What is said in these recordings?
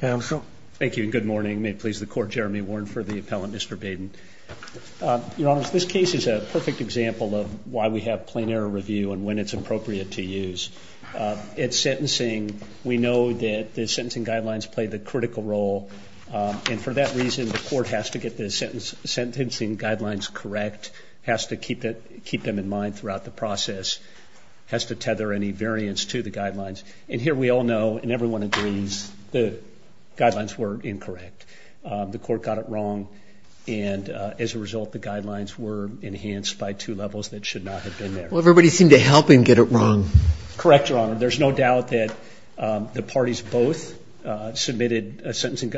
Thank you and good morning. May it please the Court, Jeremy Warren for the appellant, Mr. Baden. Your Honor, this case is a perfect example of why we have plain error review and when it's appropriate to use. It's sentencing, we know that the sentencing guidelines play the critical role, and for that reason the Court has to get the sentencing guidelines correct, has to keep them in mind throughout the process, has to tether any variance to the guidelines, and here we all know, and everyone agrees, the guidelines were incorrect. The Court got it wrong, and as a result the guidelines were enhanced by two levels that should not have been there. Well, everybody seemed to help him get it wrong. Correct, Your Honor. There's no doubt that the parties both submitted a sentencing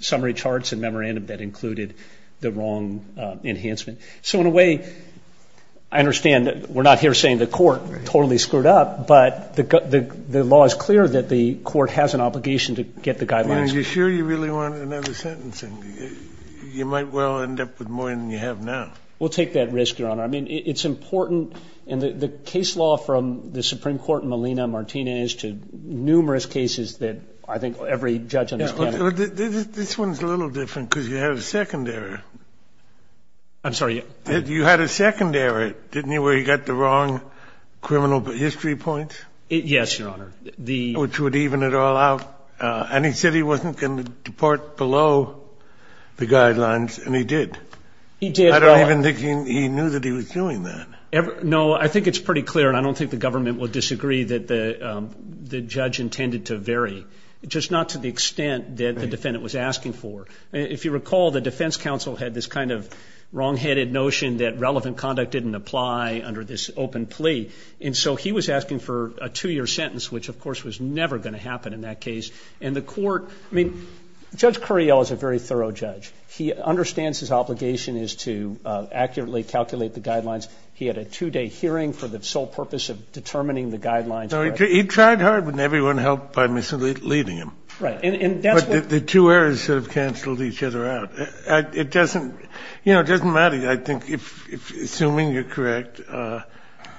summary charts and memorandum that included the wrong enhancement. So in a way, I understand that we're not here saying the Court totally screwed up, but the law is clear that the Court has an obligation to get the guidelines. And are you sure you really want another sentencing? You might well end up with more than you have now. We'll take that risk, Your Honor. I mean, it's important, and the case law from the Supreme Court in Molina-Martinez to numerous cases that I think every judge understands. This one's a little different because you have a second error. I'm sorry? You had a second error, didn't you, where you got the wrong criminal history points? Yes, Your Honor. Which would even it all out. And he said he wasn't going to depart below the guidelines, and he did. He did. I don't even think he knew that he was doing that. No, I think it's pretty clear, and I don't think the government will disagree that the judge intended to vary, just not to the extent that the defendant was asking for. If you recall, the defense counsel had this kind of wrongheaded notion that relevant conduct didn't apply under this open plea. And so he was asking for a two-year sentence, which, of course, was never going to happen in that case. And the court — I mean, Judge Curiel is a very thorough judge. He understands his obligation is to accurately calculate the guidelines. He had a two-day hearing for the sole purpose of determining the guidelines. So he tried hard, and everyone helped by misleading him. Right. And that's what — The two errors sort of canceled each other out. It doesn't — you know, it doesn't matter. I think if — assuming you're correct,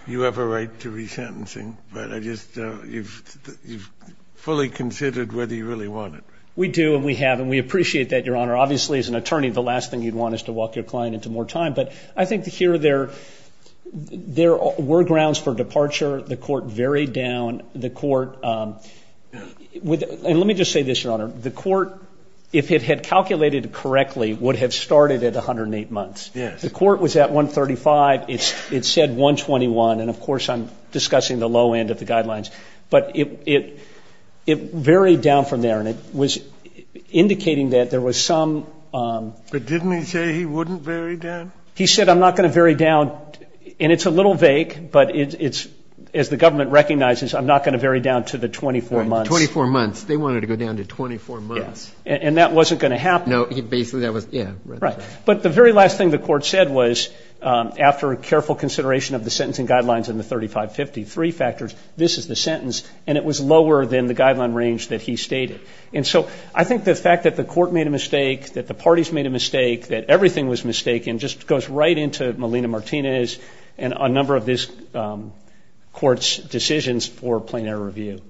you have a right to resentencing. But I just — you've fully considered whether you really want it, right? We do, and we have, and we appreciate that, Your Honor. Obviously, as an attorney, the last thing you'd want is to walk your client into more time. But I think here there — there were grounds for departure. The court varied down. The court — and let me just say this, Your Honor. The court, if it had calculated correctly, would have started at 108 months. Yes. The court was at 135. It said 121. And, of course, I'm discussing the low end of the guidelines. But it varied down from there. And it was indicating that there was some — But didn't he say he wouldn't vary down? He said, I'm not going to vary down. And it's a little vague, but it's — as the government recognizes, I'm not going to vary down to the 24 months. 24 months. They wanted to go down to 24 months. Yes. And that wasn't going to happen. No. Basically, that was — yeah. Right. But the very last thing the court said was, after careful consideration of the sentencing guidelines and the 3553 factors, this is the sentence. And it was lower than the guideline range that he stated. And so I think the fact that the court made a mistake, that the parties made a mistake, that everything was mistaken, just goes right into Melina Martinez's and a number of this court's decisions for plain error review.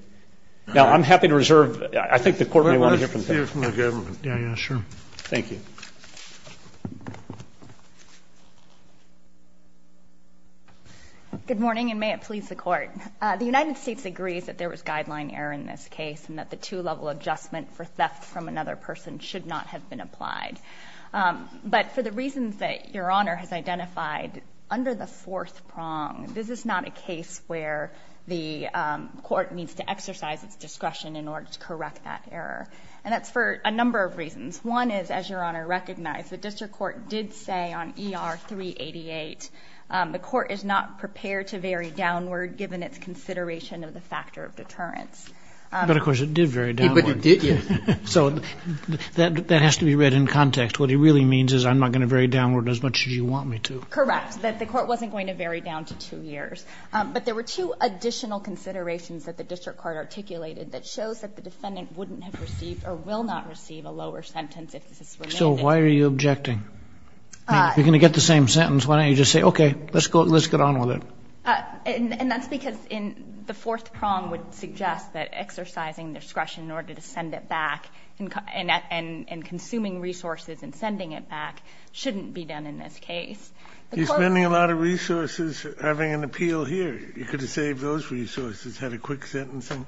Now, I'm happy to reserve — I think the court may want to hear from the government. Yeah. Yeah. Sure. Thank you. Good morning, and may it please the court. The United States agrees that there was guideline error in this case and that the two-level adjustment for theft from another person should not have been applied. But for the reasons that Your Honor has identified, under the fourth prong, this is not a case where the court needs to exercise its discretion in order to correct that error. And that's for a number of reasons. One is, as Your Honor recognized, the district court did say on ER-388, the court is not prepared to vary downward given its consideration of the factor of deterrence. But, of course, it did vary downward. But it did, yes. So that has to be read in context. What he really means is, I'm not going to vary downward as much as you want me to. Correct. That the court wasn't going to vary down to two years. But there were two additional considerations that the district court articulated that shows that the defendant wouldn't have received or will not receive a lower sentence if this is remitted. So why are you objecting? You're going to get the same sentence. Why don't you just say, OK, let's go — let's get on with it. And that's because in the fourth prong would suggest that exercising discretion in order to send it back and consuming resources and sending it back shouldn't be done in this case. The court — You're spending a lot of resources having an appeal here. You could have saved those resources, had a quick sentencing,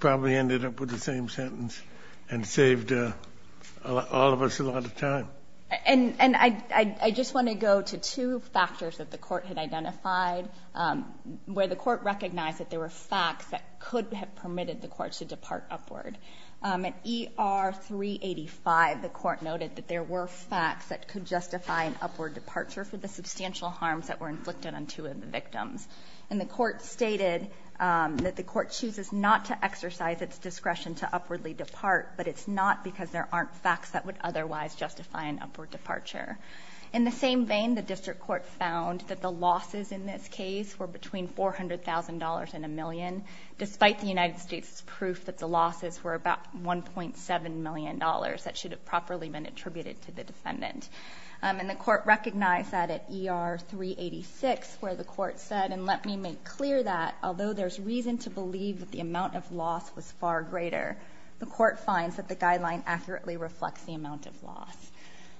probably ended up with the same sentence and saved all of us a lot of time. And I just want to go to two factors that the court had identified where the court recognized that there were facts that could have permitted the court to depart upward. At ER 385, the court noted that there were facts that could justify an upward departure for the substantial harms that were inflicted on two of the victims. And the court stated that the court chooses not to exercise its discretion to upwardly depart, but it's not because there aren't facts that would otherwise justify an upward departure. In the same vein, the district court found that the losses in this case were between $400,000 and a million. Despite the United States' proof that the losses were about $1.7 million that should have properly been attributed to the defendant. And the court recognized that at ER 386 where the court said, and let me make clear that, although there's reason to believe that the amount of loss was far greater, the court finds that the guideline accurately reflects the amount of loss.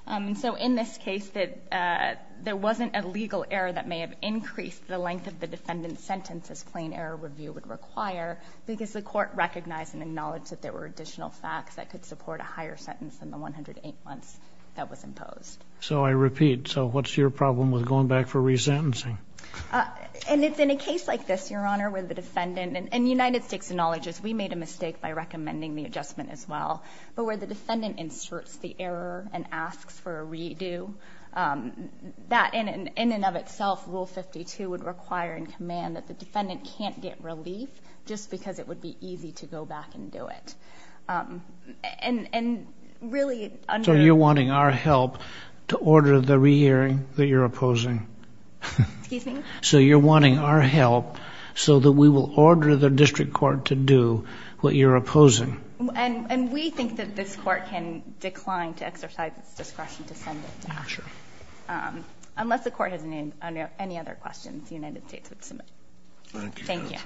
And so in this case, there wasn't a legal error that may have increased the length of the defendant's sentence as plain error review would require, because the court recognized and acknowledged that there were additional facts that could support a higher sentence than the 108 months that was imposed. So I repeat, so what's your problem with going back for resentencing? And it's in a case like this, Your Honor, where the defendant, and United States acknowledges we made a mistake by recommending the adjustment as well, but where the defendant inserts the error and asks for a redo, that in and of itself, Rule 52 would require and command that the defendant can't get relief, just because it would be easy to go back and do it. And really, under- So you're wanting our help to order the re-hearing that you're opposing. Excuse me? So you're wanting our help so that we will order the district court to do what you're opposing. And we think that this court can decline to exercise its discretion to send it to action. Sure. Unless the court has any other questions, United States would submit. Thank you, counsel. Thank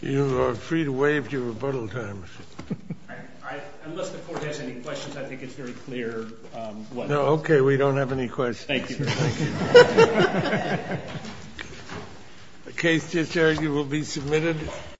you. You are free to waive your rebuttal time. All right. Unless the court has any questions, I think it's very clear what- No, okay. We don't have any questions. Thank you, Your Honor. The case is here. You will be submitted. Thank you. Thank you.